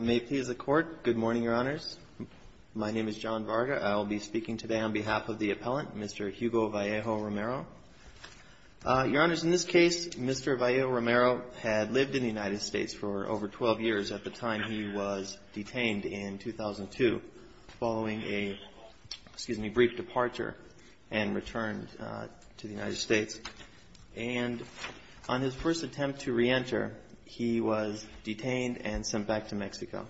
May it please the Court, good morning, Your Honors. My name is John Varga. I will be speaking today on behalf of the appellant, Mr. Hugo Vallejo-Romero. Your Honors, in this case, Mr. Vallejo-Romero had lived in the United States for over 12 years at the time he was detained in 2002 following a, excuse me, brief departure and return to the United States. And on his first attempt to reenter, he was detained and sent back to Mexico.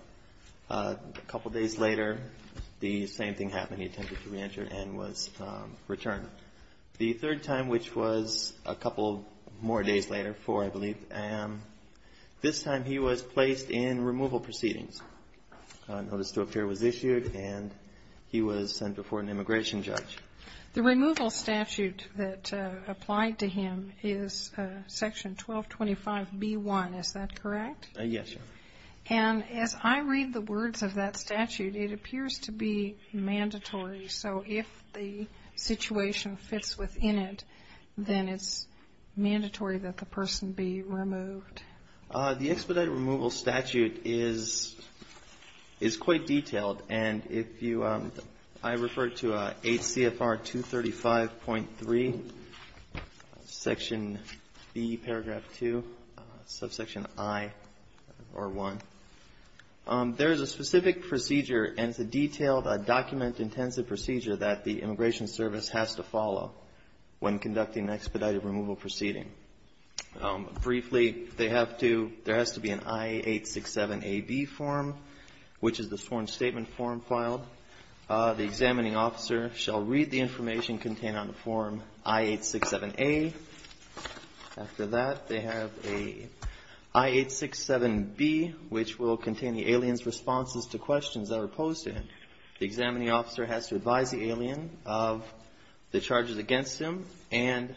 A couple days later, the same thing happened. He attempted to reenter and was returned. The third time, which was a couple more days later, four, I believe, this time he was placed in removal proceedings. A notice to appear was issued, and he was sent before an immigration judge. The removal statute that applied to him is Section 1225B1, is that correct? Yes, Your Honor. And as I read the words of that statute, it appears to be mandatory. So if the situation fits within it, then it's mandatory that the person be removed. The expedited removal statute is quite detailed. And if you, I refer to 8 CFR 235.3, Section B, Paragraph 2, Subsection I or I. There is a specific procedure, and it's a detailed, document-intensive procedure that the Immigration Service has to follow when conducting an expedited removal proceeding. Briefly, they have to, there has to be an I-867AB form, which is the sworn statement form filed. The examining officer shall read the information contained on the form I-867A. After that, they have a I-867B, which will contain the alien's responses to questions that are posed to him. The examining officer has to advise the alien of the charges against him, and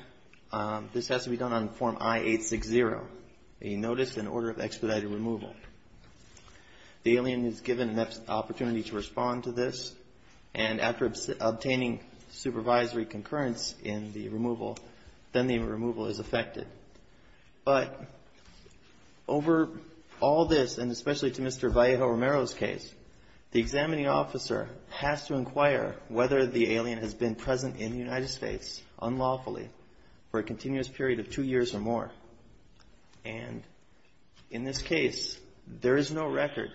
this has to be done on form I-860, a notice in order of expedited removal. The alien is given an opportunity to respond to this, and after obtaining supervisory concurrence in the removal, then the removal is effected. But over all this, and especially to Mr. Vallejo Romero's case, the examining officer has to inquire whether the alien has been present in the United States, unlawfully, for a continuous period of two years or more. And in this case, there is no record.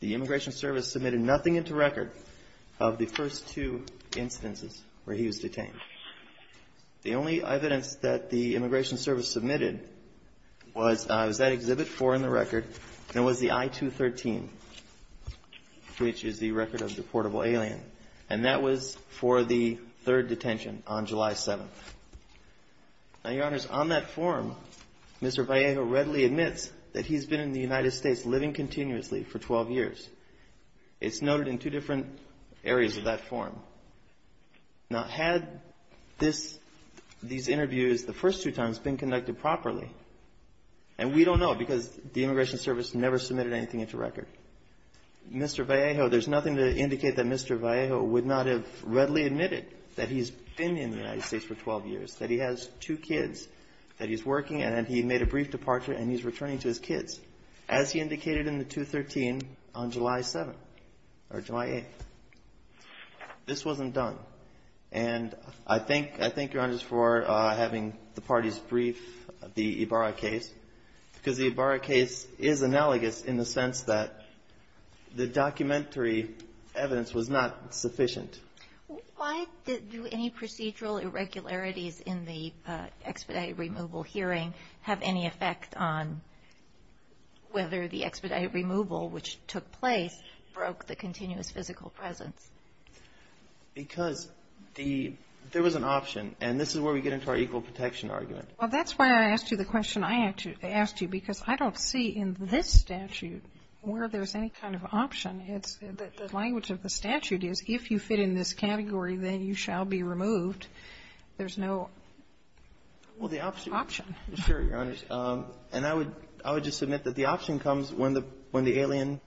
The Immigration Service submitted nothing into record of the first two instances where he was detained. The only evidence that the Immigration Service submitted was that Exhibit 4 in the record, and it was the I-213, which is the record of the reportable alien. And that was for the third detention on July 7th. Now, Your Honors, on that form, Mr. Vallejo readily admits that he's been in the United States living continuously for 12 years. It's noted in two different areas of that form. Now, had this, these interviews the first two times been conducted properly, and we don't know because the Immigration Service never submitted anything into record, Mr. Vallejo, there's nothing to indicate that Mr. Vallejo would not have readily admitted that he's been in the United States for 12 years, that he has two kids, that he's working, and that he made a brief departure and he's returning to his kids, as he indicated in the 213 on July 7th or July 8th. This wasn't done. And I thank your Honors for having the parties brief the Ibarra case, because the Ibarra case is analogous in the sense that the documentary evidence was not sufficient. Why do any procedural irregularities in the expedited removal hearing have any effect on whether the expedited removal, which took place, broke the continuous physical presence? Because there was an option. And this is where we get into our equal protection argument. Well, that's why I asked you the question I asked you, because I don't see in this statute where there's any kind of option. The language of the statute is, if you fit in this category, then you shall be removed. There's no option. Well, the option, sure, Your Honors. And I would just submit that the option comes when the alien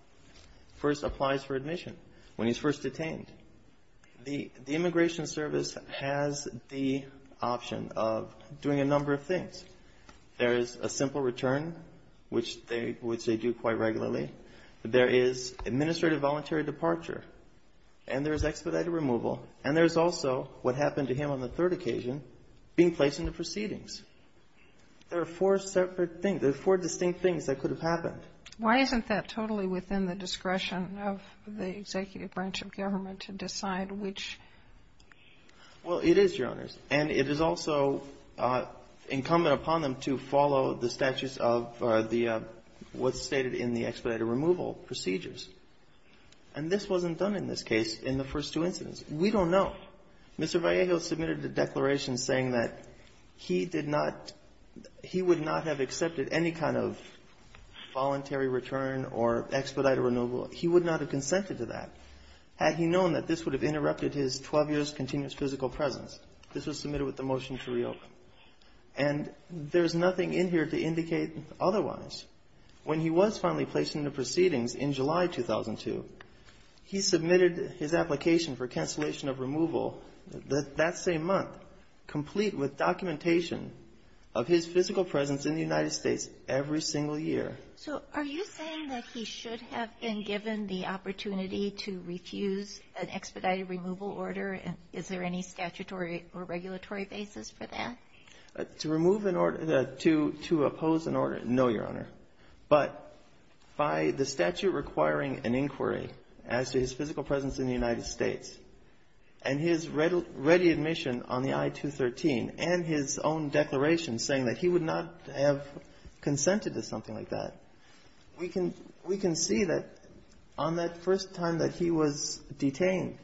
first applies for admission, when he's first detained. The Immigration Service has the option of doing a number of things. There is a simple return, which they do quite regularly. There is administrative voluntary departure. And there is expedited removal. And there's also, what happened to him on the third occasion, being placed into proceedings. There are four separate things. There are four distinct things that could have happened. Why isn't that totally within the discretion of the executive branch of government to decide which? Well, it is, Your Honors. And it is also incumbent upon them to follow the statutes of the what's stated in the expedited removal procedures. And this wasn't done in this case, in the first two incidents. We don't know. Mr. Vallejo submitted a declaration saying that he did not he would not have accepted any kind of voluntary return or expedited renewal. He would not have consented to that had he known that this would have interrupted his 12 years continuous physical presence. This was submitted with the motion to reopen. And there's nothing in here to indicate otherwise. When he was finally placed into proceedings in July 2002, he submitted his application for cancellation of removal that same month, complete with documentation of his physical presence in the United States every single year. So are you saying that he should have been given the opportunity to refuse an expedited removal order? Is there any statutory or regulatory basis for that? To remove an order to oppose an order? No, Your Honor. But by the statute requiring an inquiry as to his physical presence in the United States, and his ready admission on the I-213, and his own declaration saying that he would not have consented to something like that, we can see that on that first time that he was detained,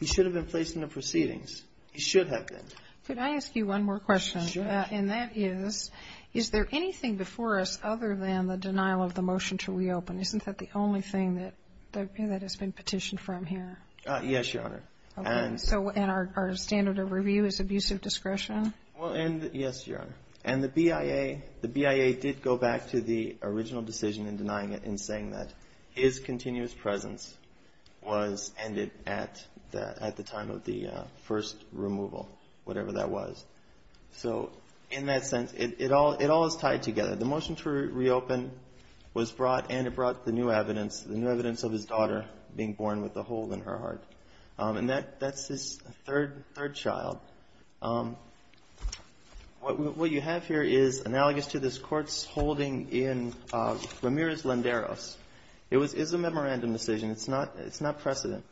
he should have been placed into proceedings. He should have been. Could I ask you one more question? Sure. And that is, is there anything before us other than the denial of the motion to reopen? Isn't that the only thing that has been petitioned from here? Yes, Your Honor. And our standard of review is abusive discretion? Yes, Your Honor. And the BIA did go back to the original decision in denying it and saying that his heart was broken or whatever that was. So in that sense, it all is tied together. The motion to reopen was brought and it brought the new evidence, the new evidence of his daughter being born with a hole in her heart. And that's his third child. What you have here is analogous to this Court's holding in Ramirez-Landeros. It is a memorandum decision. It's not precedent.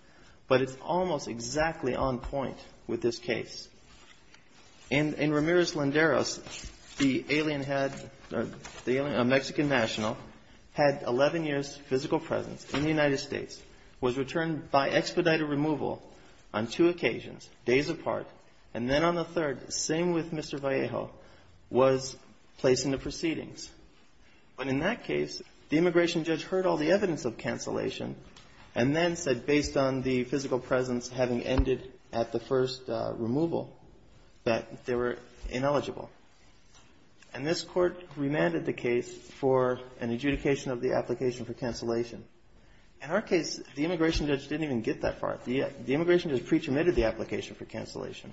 But it's almost exactly on point with this case. In Ramirez-Landeros, the alien had, the Mexican national, had 11 years' physical presence in the United States, was returned by expedited removal on two occasions, days apart. And then on the third, same with Mr. Vallejo, was placed into proceedings. But in that case, the immigration judge heard all the evidence of cancellation and then said, based on the physical presence having ended at the first removal, that they were ineligible. And this Court remanded the case for an adjudication of the application for cancellation. In our case, the immigration judge didn't even get that far. The immigration judge pre-terminated the application for cancellation,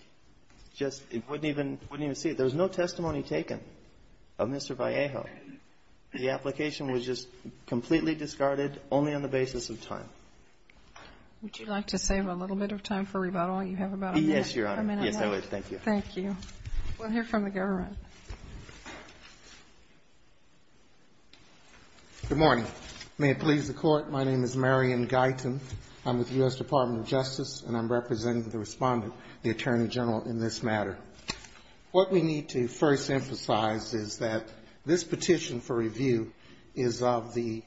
just wouldn't even see it. There was no testimony taken of Mr. Vallejo. The application was just completely discarded, only on the basis of time. Would you like to save a little bit of time for rebuttal? You have about a minute. Yes, Your Honor. Yes, I would. Thank you. Thank you. We'll hear from the government. Good morning. May it please the Court, my name is Marion Guyton. I'm with the U.S. Department of Justice, and I'm representing the Respondent, the Attorney General, in this matter. What we need to first emphasize is that this petition for review is of the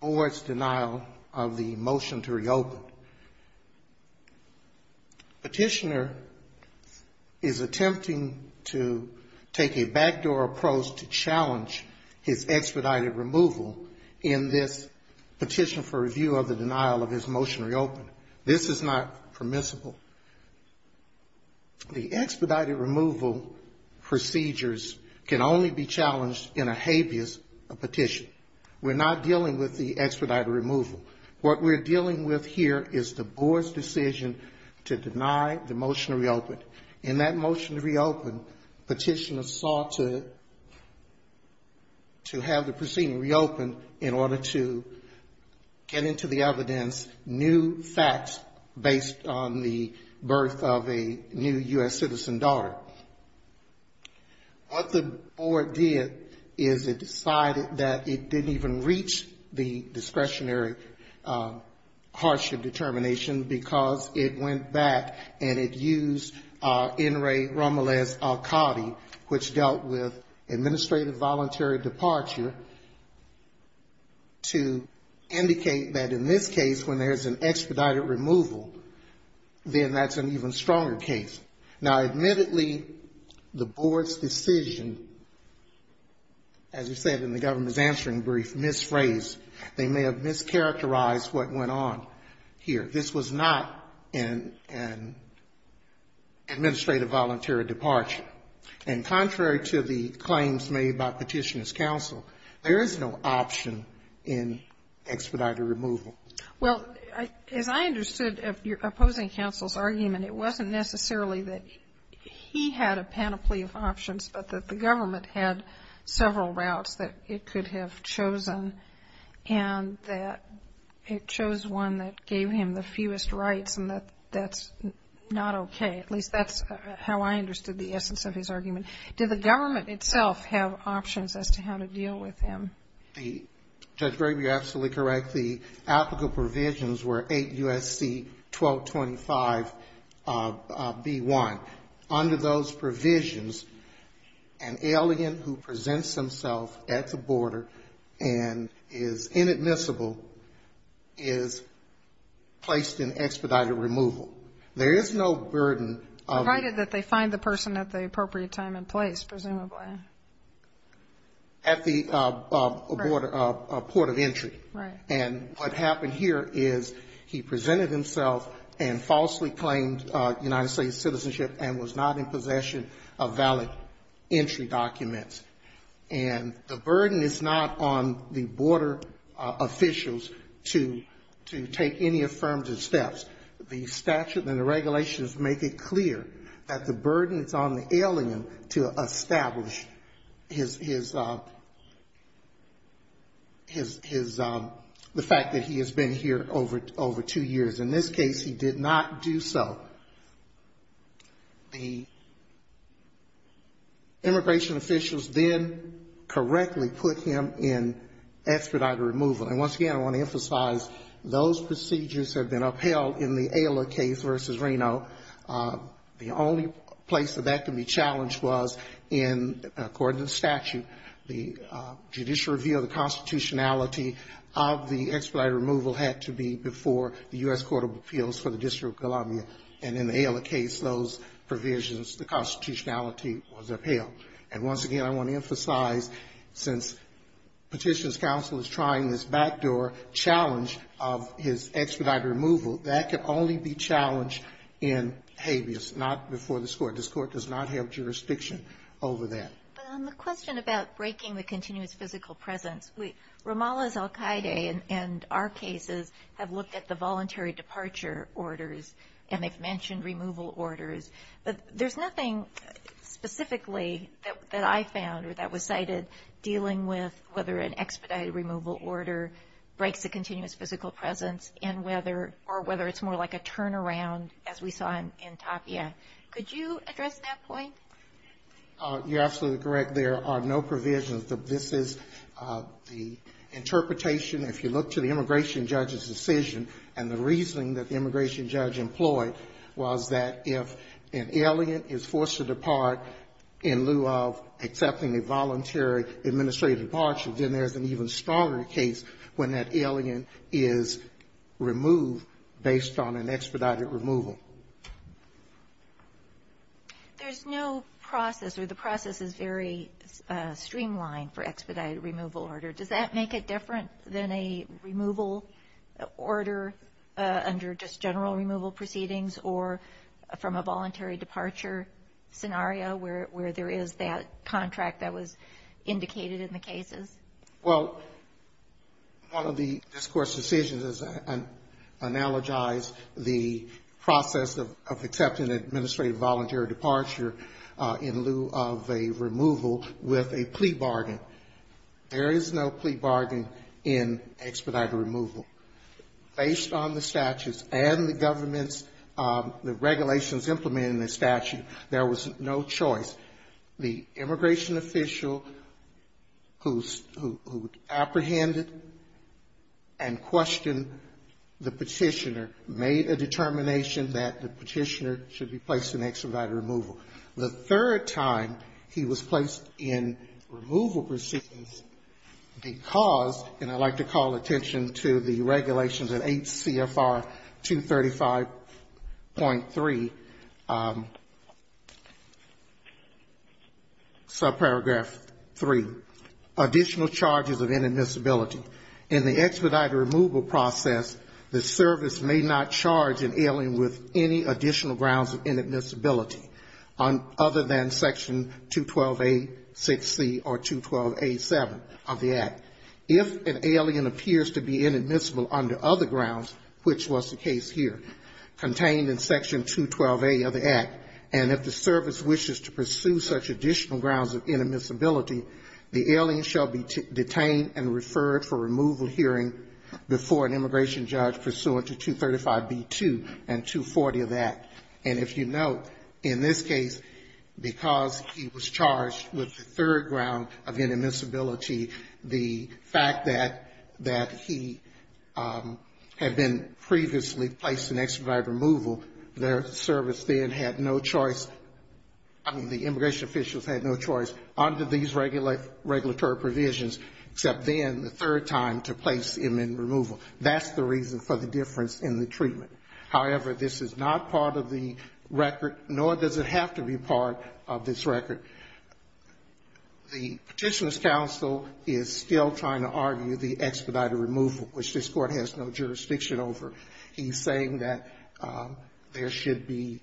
board's denial of the motion to reopen. Petitioner is attempting to take a backdoor approach to challenge his expedited removal in this petition for review of the denial of his motion to reopen. This is not permissible. The expedited removal procedures can only be challenged in a habeas petition. We're not dealing with the expedited removal. What we're dealing with here is the board's decision to deny the motion to reopen. In that motion to reopen, petitioner sought to have the proceeding reopened in order to get into the evidence new facts based on the birth of a new U.S. citizen daughter. What the board did is it decided that it didn't even reach the discretionary hardship determination, because it went back and it used N. Ray Romeles-Alcotti, which dealt with administrative voluntary departure, to indicate that in this case, when there's an expedited removal, then that's an even stronger case. Now, admittedly, the board's decision, as you said in the government's answering brief, misphrased. They may have mischaracterized what went on here. This was not an administrative voluntary departure. And contrary to the claims made by Petitioner's Counsel, there is no option in expedited removal. Well, as I understood of your opposing counsel's argument, it wasn't necessarily that he had a panoply of options, but that the government had several routes that it could have chosen, and that it chose one that gave him the fewest rights, and that that's not okay. At least that's how I understood the essence of his argument. Did the government itself have options as to how to deal with him? Judge Graber, you're absolutely correct. The applicable provisions were 8 U.S.C. 1225B1. Under those provisions, an alien who presents himself at the border and is inadmissible is placed in expedited removal. There is no burden of the... Provided that they find the person at the appropriate time and place, presumably. At the border, a port of entry. Right. And what happened here is he presented himself and falsely claimed United States citizenship and was not in possession of valid entry documents. And the burden is not on the border officials to take any affirmative steps. The statute and the regulations make it clear that the burden is on the alien to establish his... The fact that he has been here over two years. In this case, he did not do so. The immigration officials then correctly put him in expedited removal. And once again, I want to emphasize, those procedures have been upheld in the Ayla case versus Reno. The only place that that can be challenged was in, according to the statute, the judicial review of the constitutionality of the expedited removal had to be before the U.S. Court of Appeals for the District of Columbia. And in the Ayla case, those provisions, the constitutionality was upheld. And once again, I want to emphasize, since Petitioner's Counsel is trying this backdoor challenge of his expedited removal, that can only be challenged in habeas, not before this Court. This Court does not have jurisdiction over that. But on the question about breaking the continuous physical presence, Ramallah's al-Qaeda and our cases have looked at the voluntary departure orders, and they've mentioned removal orders. But there's nothing specifically that I found or that was cited dealing with whether an expedited removal order breaks a continuous physical presence, or whether it's more like a turnaround, as we saw in Tapia. Could you address that point? You're absolutely correct. There are no provisions. This is the interpretation, if you look to the immigration judge's decision, and the reasoning that the immigration judge employed was that if an alien is forced to depart in lieu of accepting a voluntary administrative departure, then there's an even stronger case when that alien is removed based on an expedited removal. There's no process, or the process is very streamlined for expedited removal order. Does that make it different than a removal order under just general removal proceedings, or from a voluntary departure scenario where there is that contract that was indicated in the cases? Well, one of the discourse decisions is analogize the process of accepting administrative voluntary departure in lieu of a removal with a plea bargain. There is no plea bargain in expedited removal. Based on the statutes and the government's regulations implementing the statute, there was no choice. The immigration official who apprehended and questioned the petitioner made a determination that the petitioner should be placed in expedited removal. The third time he was placed in removal proceedings because, and I'd like to call attention to the regulations at 8 CFR 235.3, subparagraph 3, additional charges of inadmissibility. In the expedited removal process, the service may not charge an alien with any additional grounds of inadmissibility other than section 212A, 6C, or 212A7 of the act. If an alien appears to be inadmissible under other grounds, which was the case here, contained in section 212A of the act, and if the service wishes to pursue such additional grounds of inadmissibility, the alien shall be detained and referred for removal hearing before an immigration judge pursuant to 235B2 and 240 of that. And if you note, in this case, because he was charged with the third ground of inadmissibility, the fact that he had been previously placed in expedited removal, their service then had no choice, I mean, the immigration officials had no choice under these regulatory provisions, except then, the third time, to place him in removal. That's the reason for the difference in the treatment. However, this is not part of the record, nor does it have to be part of this record. The Petitioner's counsel is still trying to argue the expedited removal, which this Court has no jurisdiction over. He's saying that there should be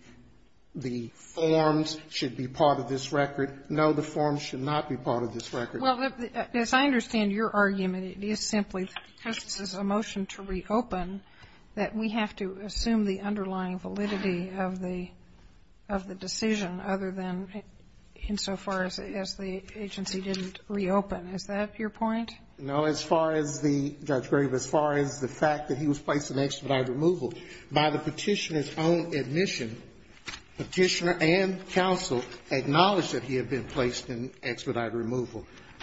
the forms should be part of this record. Well, as I understand your argument, it is simply because this is a motion to reopen that we have to assume the underlying validity of the decision, other than insofar as the agency didn't reopen. Is that your point? No, as far as the, Judge Grave, as far as the fact that he was placed in expedited removal,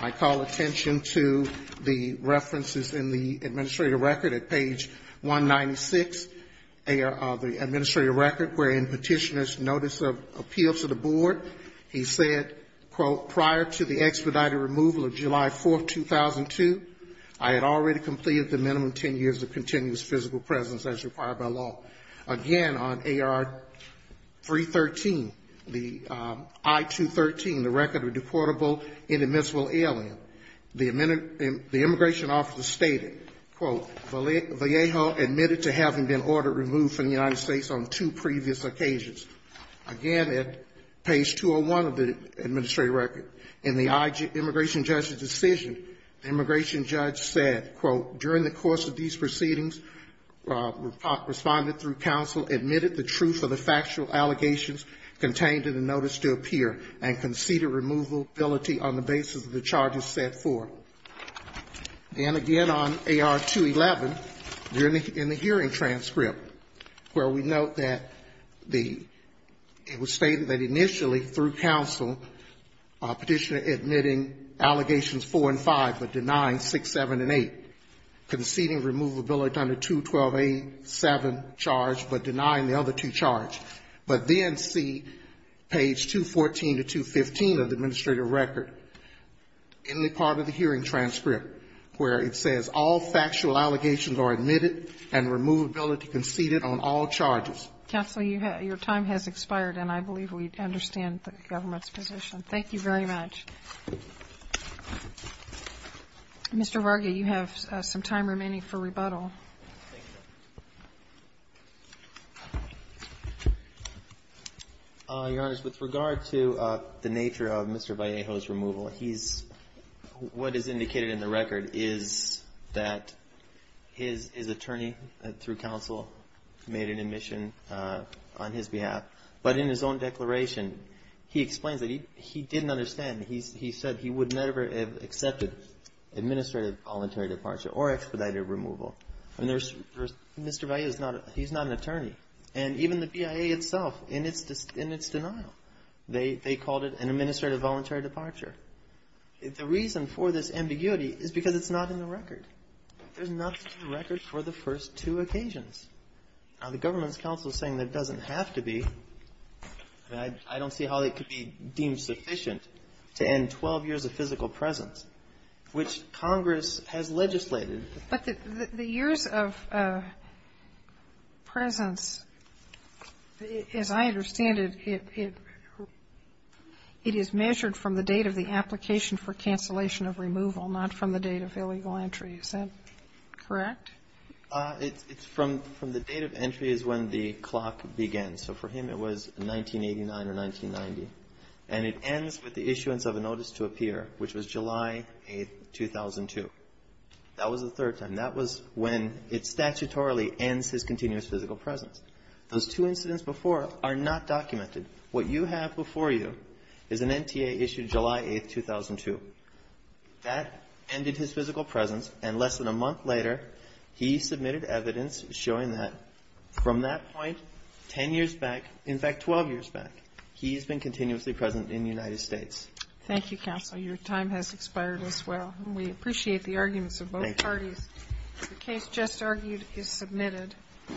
I call attention to the references in the Administrative Record at page 196 of the Administrative Record wherein Petitioner's notice of appeals to the Board. He said, quote, prior to the expedited removal of July 4th, 2002, I had already completed the minimum 10 years of continuous physical presence as required by law. Again, on AR-313, the I-213, the record of deportable inadmissible alien, the immigration officer stated, quote, Vallejo admitted to having been ordered removed from the United States on two previous occasions. Again, at page 201 of the Administrative Record. In the immigration judge's decision, the immigration judge said, quote, during the course of these proceedings responded through counsel, admitted the truth of the factual allegations contained in the notice to appear, and conceded removability on the basis of the charges set forth. And again, on AR-211, in the hearing transcript, where we note that the, it was stated that initially through counsel, Petitioner admitting allegations 4 and 5, but denying 6, 7, and 8, conceding removability under 212A7 charge, but denying the other two charges. But then see page 214 to 215 of the Administrative Record, in the part of the hearing transcript, where it says all factual allegations are admitted and removability conceded on all charges. Counsel, your time has expired, and I believe we understand the government's position. Thank you very much. Mr. Varga, you have some time remaining for rebuttal. Your Honor, with regard to the nature of Mr. Vallejo's removal, he's, what is indicated in the record is that his attorney, through counsel, made an admission on his behalf. But in his own declaration, he explains that he didn't understand. He said he would never have accepted administrative voluntary departure or expedited removal. And there's, Mr. Vallejo is not, he's not an attorney. And even the BIA itself, in its denial, they called it an administrative voluntary departure. The reason for this ambiguity is because it's not in the record. There's not such a record for the first two occasions. Now, the government's counsel is saying there doesn't have to be. I don't see how it could be deemed sufficient to end 12 years of physical presence, which Congress has legislated. But the years of presence, as I understand it, it is measured from the date of the entry, is that correct? It's from the date of entry is when the clock begins. So for him, it was 1989 or 1990. And it ends with the issuance of a notice to appear, which was July 8, 2002. That was the third time. That was when it statutorily ends his continuous physical presence. Those two incidents before are not documented. What you have before you is an NTA issued July 8, 2002. That ended his physical presence. And less than a month later, he submitted evidence showing that from that point 10 years back, in fact, 12 years back, he's been continuously present in the United States. Thank you, counsel. Your time has expired as well. We appreciate the arguments of both parties. The case just argued is submitted. Thank you.